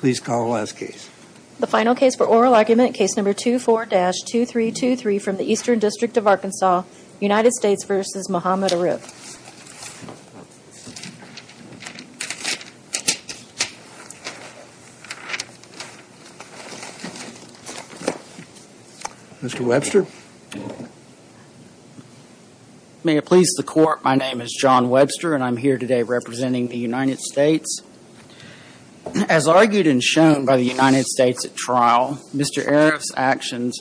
Please call the last case. The final case for oral argument, case number 24-2323 from the Eastern District of Arkansas, United States v. Muhammad Arif. Mr. Webster. May it please the court, my name is John Webster and I'm here today representing the United States. As argued and shown by the United States at trial, Mr. Arif's actions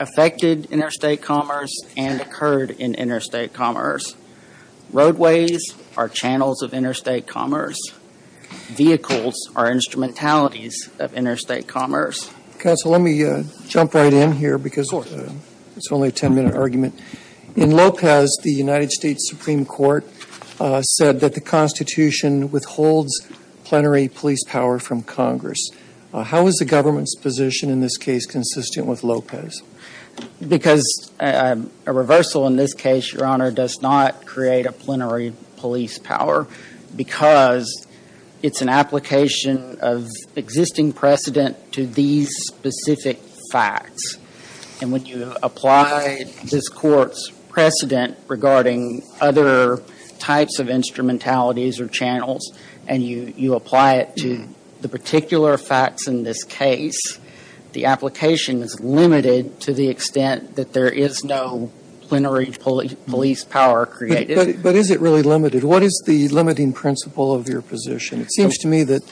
affected interstate commerce and occurred in interstate commerce. Roadways are channels of interstate commerce. Vehicles are instrumentalities of interstate commerce. Counsel, let me jump right in here because it's only a 10-minute argument. In Lopez, the United States Supreme Court said that the Constitution withholds plenary police power from Congress. How is the government's position in this case consistent with Lopez? Because a reversal in this case, Your Honor, does not create a plenary police power because it's an application of existing precedent to these specific facts. And when you apply this court's precedent regarding other types of instrumentalities or channels and you apply it to particular facts in this case, the application is limited to the extent that there is no plenary police power created. But is it really limited? What is the limiting principle of your position? It seems to me that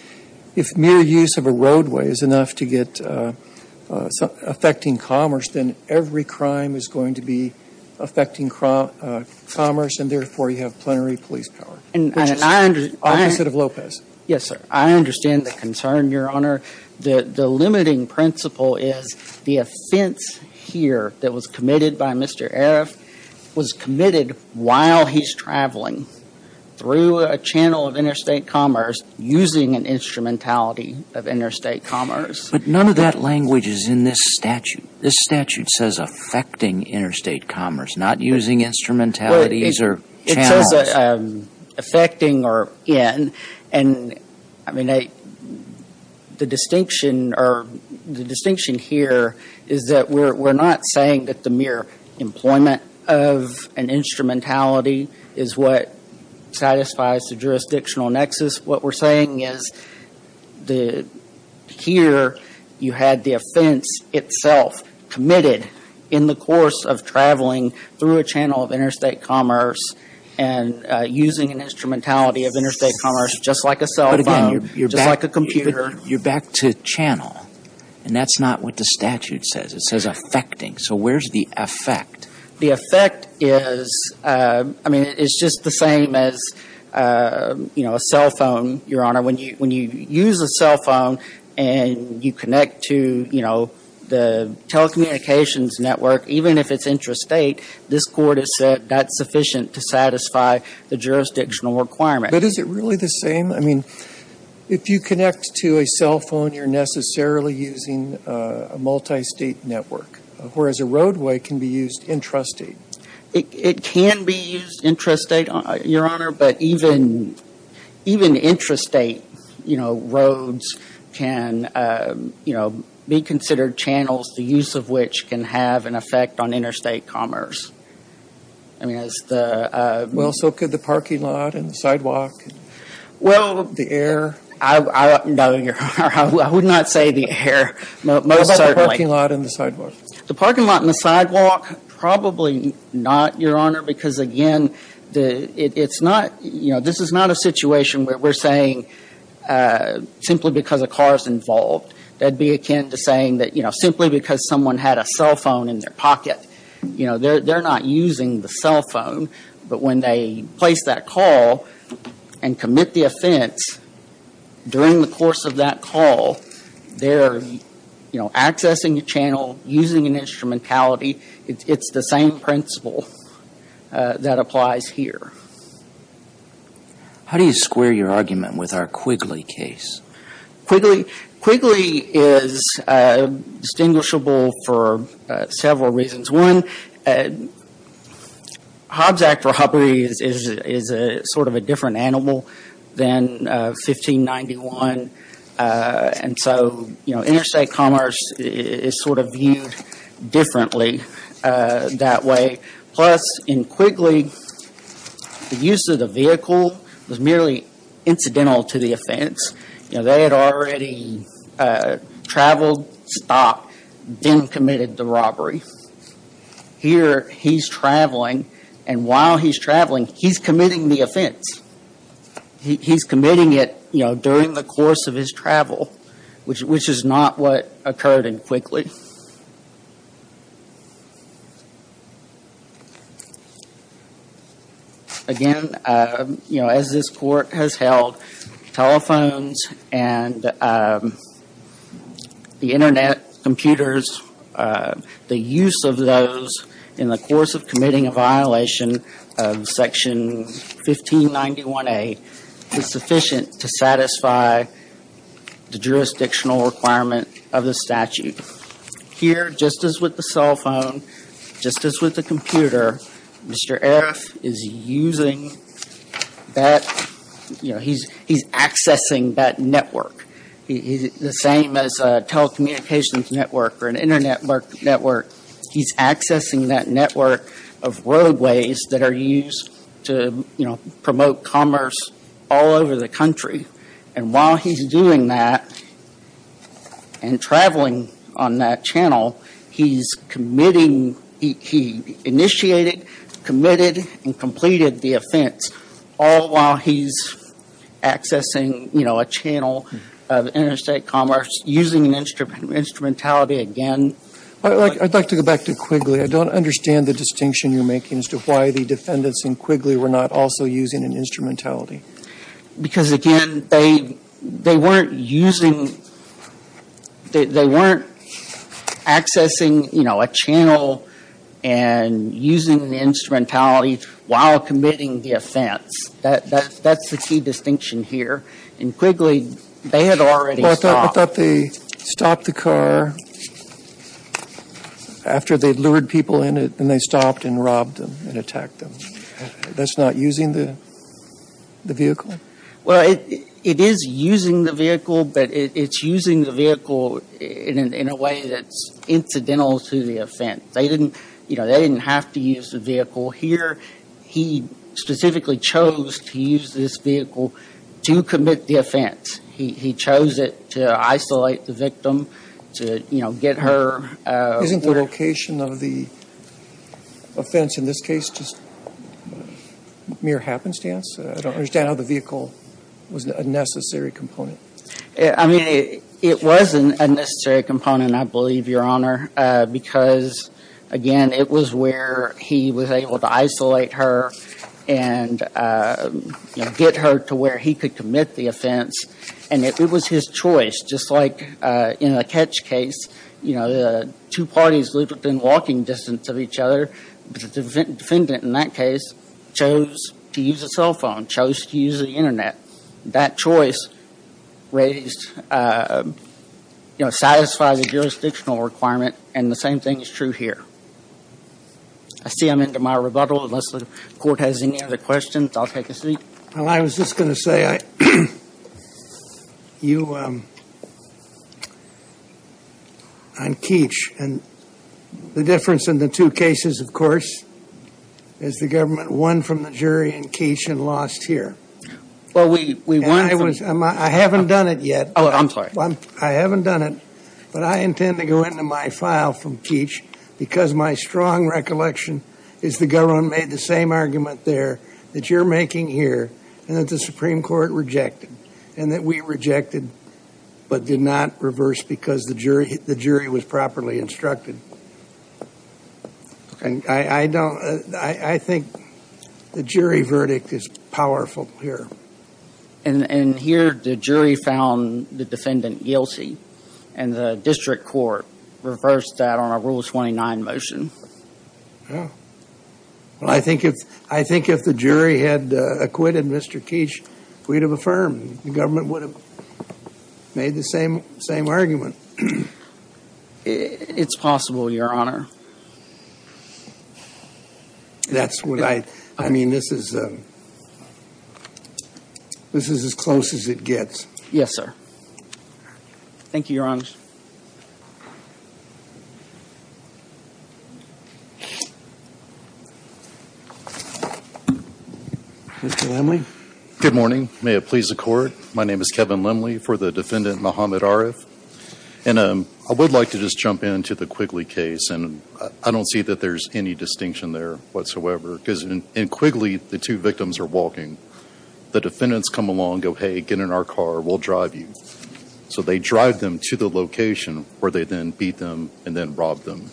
if mere use of a roadway is enough to get affecting commerce, then every crime is going to be affecting commerce and therefore you have Yes, sir. I understand the concern, Your Honor. The limiting principle is the offense here that was committed by Mr. Arif was committed while he's traveling through a channel of interstate commerce using an instrumentality of interstate commerce. But none of that language is in this statute. This statute says affecting interstate commerce, not using instrumentalities or channels. Affecting or in. The distinction here is that we're not saying that the mere employment of an instrumentality is what satisfies the jurisdictional nexus. What we're saying is here you had the offense itself committed in the course of traveling through a channel of commerce and using an instrumentality of interstate commerce just like a cell phone, just like a computer. You're back to channel and that's not what the statute says. It says affecting. So where's the effect? The effect is, I mean, it's just the same as a cell phone, Your Honor. When you use a cell phone and you connect to the telecommunications network, even if it's intrastate, this Court has said that's sufficient to satisfy the jurisdictional requirement. But is it really the same? I mean, if you connect to a cell phone, you're necessarily using a multistate network, whereas a roadway can be used intrastate. It can be used intrastate, Your Honor, but even intrastate, you know, roads can, you know, be considered channels, the use of which can have an effect on interstate commerce. I mean, it's the... Well, so could the parking lot and the sidewalk? Well... The air? No, Your Honor. I would not say the air, most certainly. What about the parking lot and the sidewalk? The parking lot and the sidewalk, probably not, Your Honor, because again, it's not, you know, this is not a situation where we're saying simply because a car is involved. That'd be akin to saying that, you know, simply because someone had a cell phone in their pocket, you know, they're not using the cell phone, but when they place that call and commit the offense during the course of that call, they're, you know, accessing the channel, using an instrumentality. It's the same principle that applies here. How do you square your argument with our Quigley case? Quigley? Quigley is distinguishable for several reasons. One, Hobsack for Hobbery is sort of a different animal than 1591. And so, you know, interstate commerce is sort of viewed differently that way. Plus in Quigley, the use of the vehicle was merely incidental to the offense. They had already traveled, stopped, then committed the robbery. Here, he's traveling, and while he's traveling, he's committing the offense. He's committing it, you know, during the course of his travel, which is not what occurred in Quigley. Again, you know, as this Court has held, telephones and the internet, computers, the use of those in the course of committing a violation of Section 1591A is sufficient to satisfy the jurisdictional requirement of the statute. Here, just as with the cell phone, just as with the computer, Mr. Arif is using that, you know, he's accessing that network. The same as a telecommunications network or an internet network, he's accessing that network of roadways that are used to, you know, promote commerce all over the country. And while he's doing that and traveling on that channel, he's committing, he initiated, committed, and completed the offense, all while he's accessing, you know, a channel of interstate commerce using instrumentality again. I'd like to go back to Quigley. I don't understand the distinction you're making as to why the defendants in Quigley were not also using an instrumentality. Because again, they weren't using, they weren't accessing, you know, a channel and using the instrumentality while committing the offense. That's the key distinction here. In Quigley, they had already stopped. But they stopped the car after they'd lured people in it, and they stopped and robbed them and attacked them. That's not using the vehicle? Well, it is using the vehicle, but it's using the vehicle in a way that's incidental to the offense. They didn't, you know, they didn't have to use the vehicle. Here, he specifically chose to use this vehicle to commit the offense. He chose it to isolate the victim, to, you know, get her. Isn't the location of the offense in this case just mere happenstance? I don't understand how the vehicle was a necessary component. I mean, it was a necessary component, I believe, Your Honor, because again, it was where he was able to isolate her and, you know, get her to where he could commit the offense. And it was his choice, just like in the catch case, you know, the two parties lived within walking distance of each other, but the defendant in that case chose to use a cell phone, chose to use the internet. That choice raised, you know, satisfied the jurisdictional requirement, and the same thing is true here. I see I'm into my rebuttal, unless the court has any other questions. I'll take a seat. Well, I was just going to say, you, on Keach, and the difference in the two cases, of course, is the government won from the jury in Keach and lost here. Well, we won. I haven't done it yet. Oh, I'm sorry. I haven't done it, but I intend to go into my file from Keach, because my strong recollection is the government made the same argument there that you're making here, and that the Supreme Court rejected, and that we rejected, but did not reverse because the jury was properly instructed. And I don't, I think the jury verdict is powerful here. And here the jury found the defendant guilty, and the district court reversed that on a Rule 29 motion. Well, I think if the jury had acquitted Mr. Keach, we'd have affirmed. The government would have made the same argument. It's possible, Your Honor. That's what I, I mean, this is, this is as close as it gets. Yes, sir. Thank you, Your Honor. Mr. Lemley. Good morning. May it please the Court. My name is Kevin Lemley for the defendant, Mohamed Arif. And I would like to just jump into the Quigley case, and I don't see that there's any distinction there whatsoever. Because in Quigley, the two victims are walking. The defendants come along, go, hey, get in our car, we'll drive you. So they drive them to the location where they then beat them and then robbed them.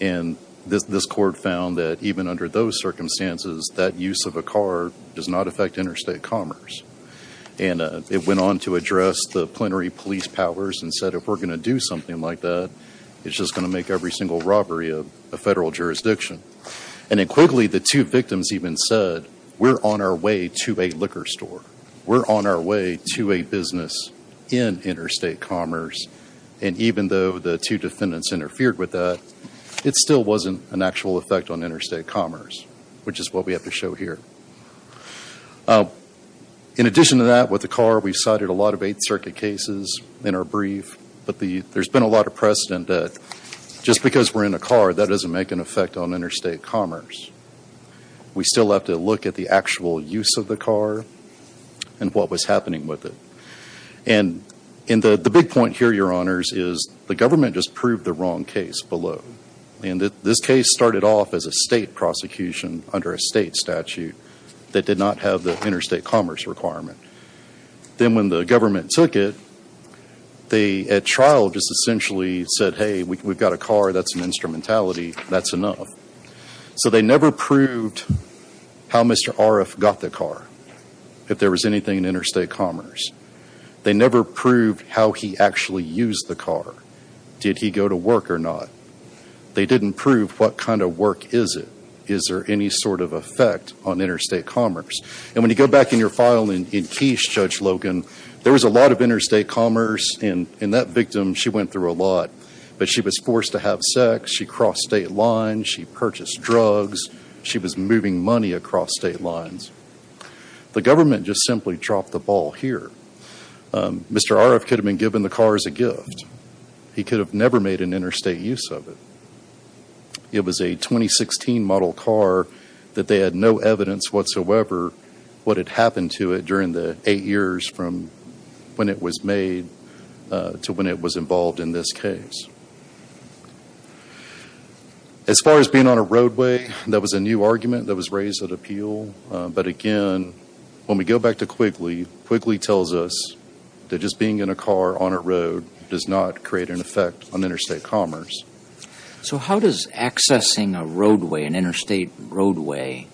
And this, this court found that even under those circumstances, that use of a car does not affect interstate commerce. And it went on to address the plenary police powers and said, if we're going to do something like that, it's just going to make every single robbery a federal jurisdiction. And in Quigley, the two victims even said, we're on our way to a liquor store. We're on our way to a business in interstate commerce. And even though the two defendants interfered with that, it still wasn't an actual effect on interstate commerce, which is what we have to show here. In addition to that, with the car, we've cited a lot of Eighth Circuit cases in our brief, but the, there's been a lot of precedent that just because we're in a car, that doesn't make an effect on interstate commerce. We still have to look at the actual use of the car and what was happening with it. And in the, the big point here, Your Honors, is the government just proved the wrong case below. And this case started off as a state prosecution under a state statute that did not have the interstate commerce requirement. Then when the government took it, they at trial just essentially said, hey, we've got a car, that's an instrumentality, that's enough. So they never proved how Mr. Aref got the car, if there was anything in interstate commerce. They never proved how he actually used the car. Did he go to work or not? They didn't prove what kind of work is it? Is there any sort of effect on interstate commerce? And when you go back in your file in, in Quiche, Judge Logan, there was a lot of interstate commerce in, in that victim. She went through a lot, but she was forced to have sex. She crossed state lines. She purchased drugs. She was moving money across state lines. The government just simply dropped the ball here. Mr. Aref could have been given the car as a gift. He could have never made an interstate use of it. It was a 2016 model car that they had no evidence whatsoever what had happened to it during the eight years from when it was made to when it was involved in this case. As far as being on a roadway, there was a new argument that was raised at appeal. But again, when we go back to Quigley, Quigley tells us that just being in a car on a road does not create an effect on interstate commerce. So how does accessing a roadway, an interstate roadway,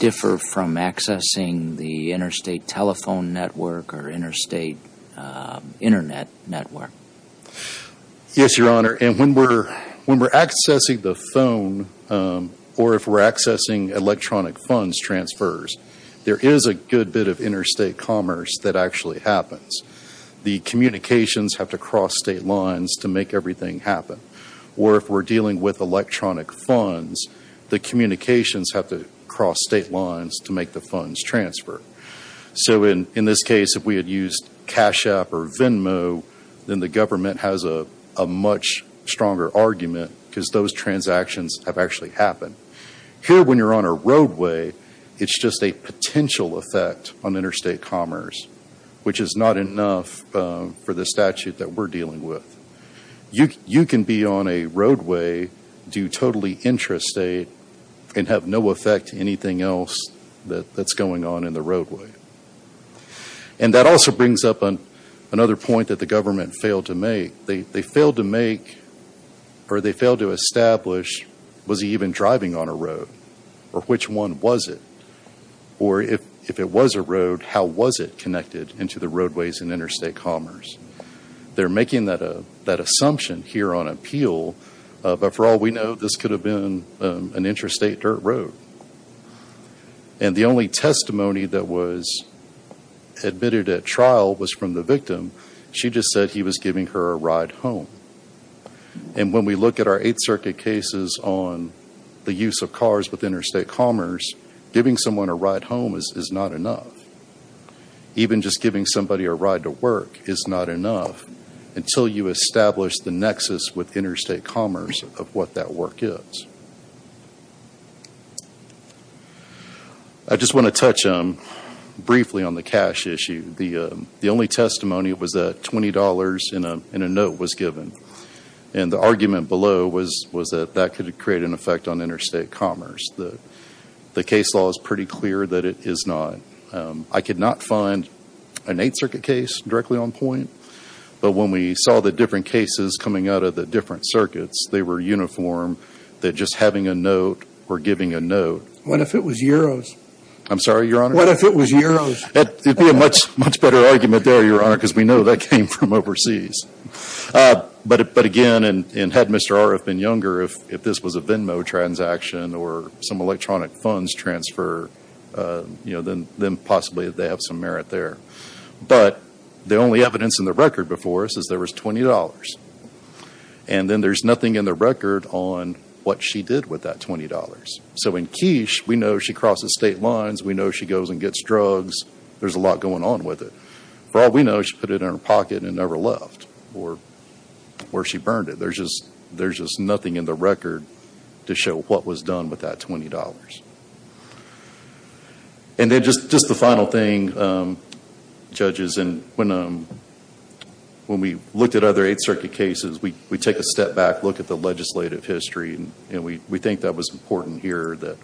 differ from accessing the interstate telephone network or interstate internet network? Yes, Your Honor. And when we're, when we're accessing the phone, or if we're accessing electronic funds transfers, there is a good bit of interstate commerce that actually happens. The communications have to cross state lines to make everything happen. Or if we're dealing with electronic funds, the communications have to cross state lines to make the funds transfer. So in this case, if we had used Cash App or Venmo, then the government has a much stronger argument because those transactions have actually happened. Here when you're on a which is not enough for the statute that we're dealing with. You can be on a roadway due totally intrastate and have no effect to anything else that's going on in the roadway. And that also brings up another point that the government failed to make. They failed to make, or they failed to establish, was he even driving on a road? Or which one was it? Or if it was a road, how was it connected into the roadways and interstate commerce? They're making that assumption here on appeal. But for all we know, this could have been an interstate dirt road. And the only testimony that was admitted at trial was from the victim. She just said he was giving her a ride home. And when we look at our Eighth Circuit cases on the use of cars with interstate commerce, giving someone a ride home is not enough. Even just giving somebody a ride to work is not enough until you establish the nexus with interstate commerce of what that work is. I just want to touch briefly on the cash issue. The only testimony was that $20 in a note was given. And the argument below was that that could create an effect on interstate commerce. The case law is pretty clear that it is not. I could not find an Eighth Circuit case directly on point. But when we saw the different cases coming out of the different circuits, they were uniform, that just having a note or giving a note. What if it was euros? I'm sorry, Your Honor? What if it was euros? That would be a much, much better argument there, Your Honor, because we know that came from overseas. But again, and had Mr. Arif been younger, if this was a Venmo transaction or some electronic funds transfer, then possibly they have some merit there. But the only evidence in the record before us is there was $20. And then there's nothing in the record on what she did with that $20. So in quiche, we know she crosses state lines. We know she goes and gets drugs. There's a lot going on with it. For all we know, she put it in her pocket and never left. Or she burned it. There's just nothing in the record to show what was done with that $20. And then just the final thing, judges, when we looked at other Eighth Circuit cases, we take a step back, look at the legislative history, and we think that was important here that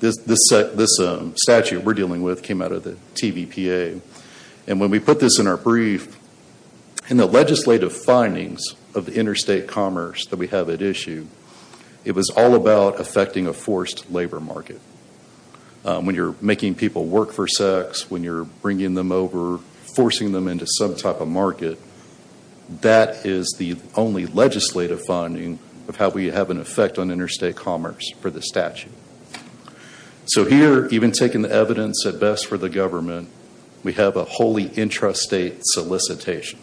this statute we're dealing with came out of the TVPA. And when we put this in our brief, in the legislative findings of the interstate commerce that we have at issue, it was all about affecting a forced labor market. When you're making people work for sex, when you're bringing them over, forcing them into some type of market, that is the only legislative finding of how we have an effect on interstate commerce for the statute. So here, even taking the evidence at best for the government, we have a wholly intrastate solicitation.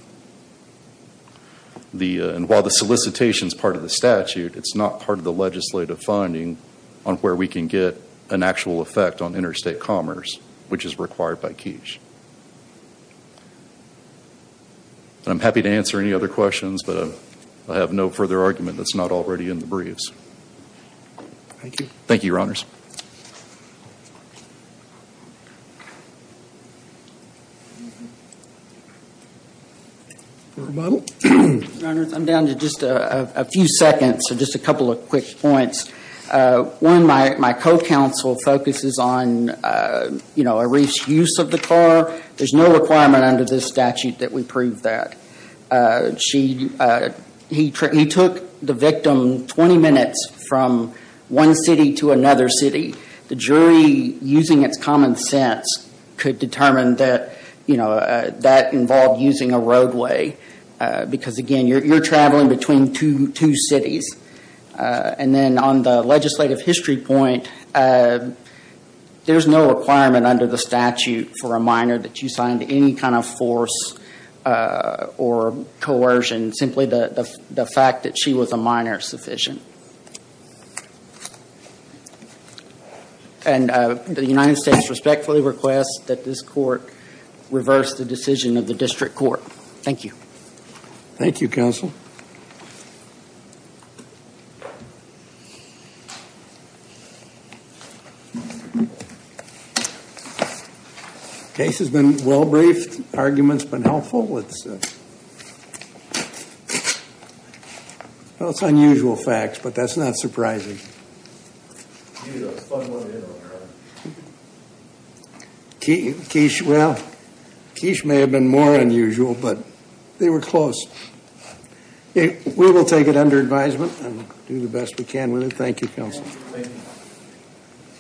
And while the solicitation is part of the statute, it's not part of the legislative finding on where we can get an actual effect on interstate commerce, which is required by Quiche. I'm happy to answer any other questions, but I have no further argument that's not already in the briefs. Thank you, Your Honors. Model? Your Honors, I'm down to just a few seconds, so just a couple of quick points. One, my co-counsel focuses on, you know, a wrist use of the car. There's no requirement under this statute that we prove that. He took the victim 20 minutes from one city to another city. The jury, using its common sense, could determine that, you know, that involved using a roadway. Because again, you're traveling between two cities. And then on the legislative history point, there's no requirement under the statute for a minor that you signed any kind of force or coercion. Simply the fact that she was a minor is sufficient. And the United States respectfully requests that this court reverse the decision of the district court. Thank you. Thank you, counsel. Case has been well briefed. Argument's been helpful. It's unusual facts, but that's not surprising. Well, Keish may have been more unusual, but they were close. We will take it under advisement and do the best we can with it. Thank you, counsel.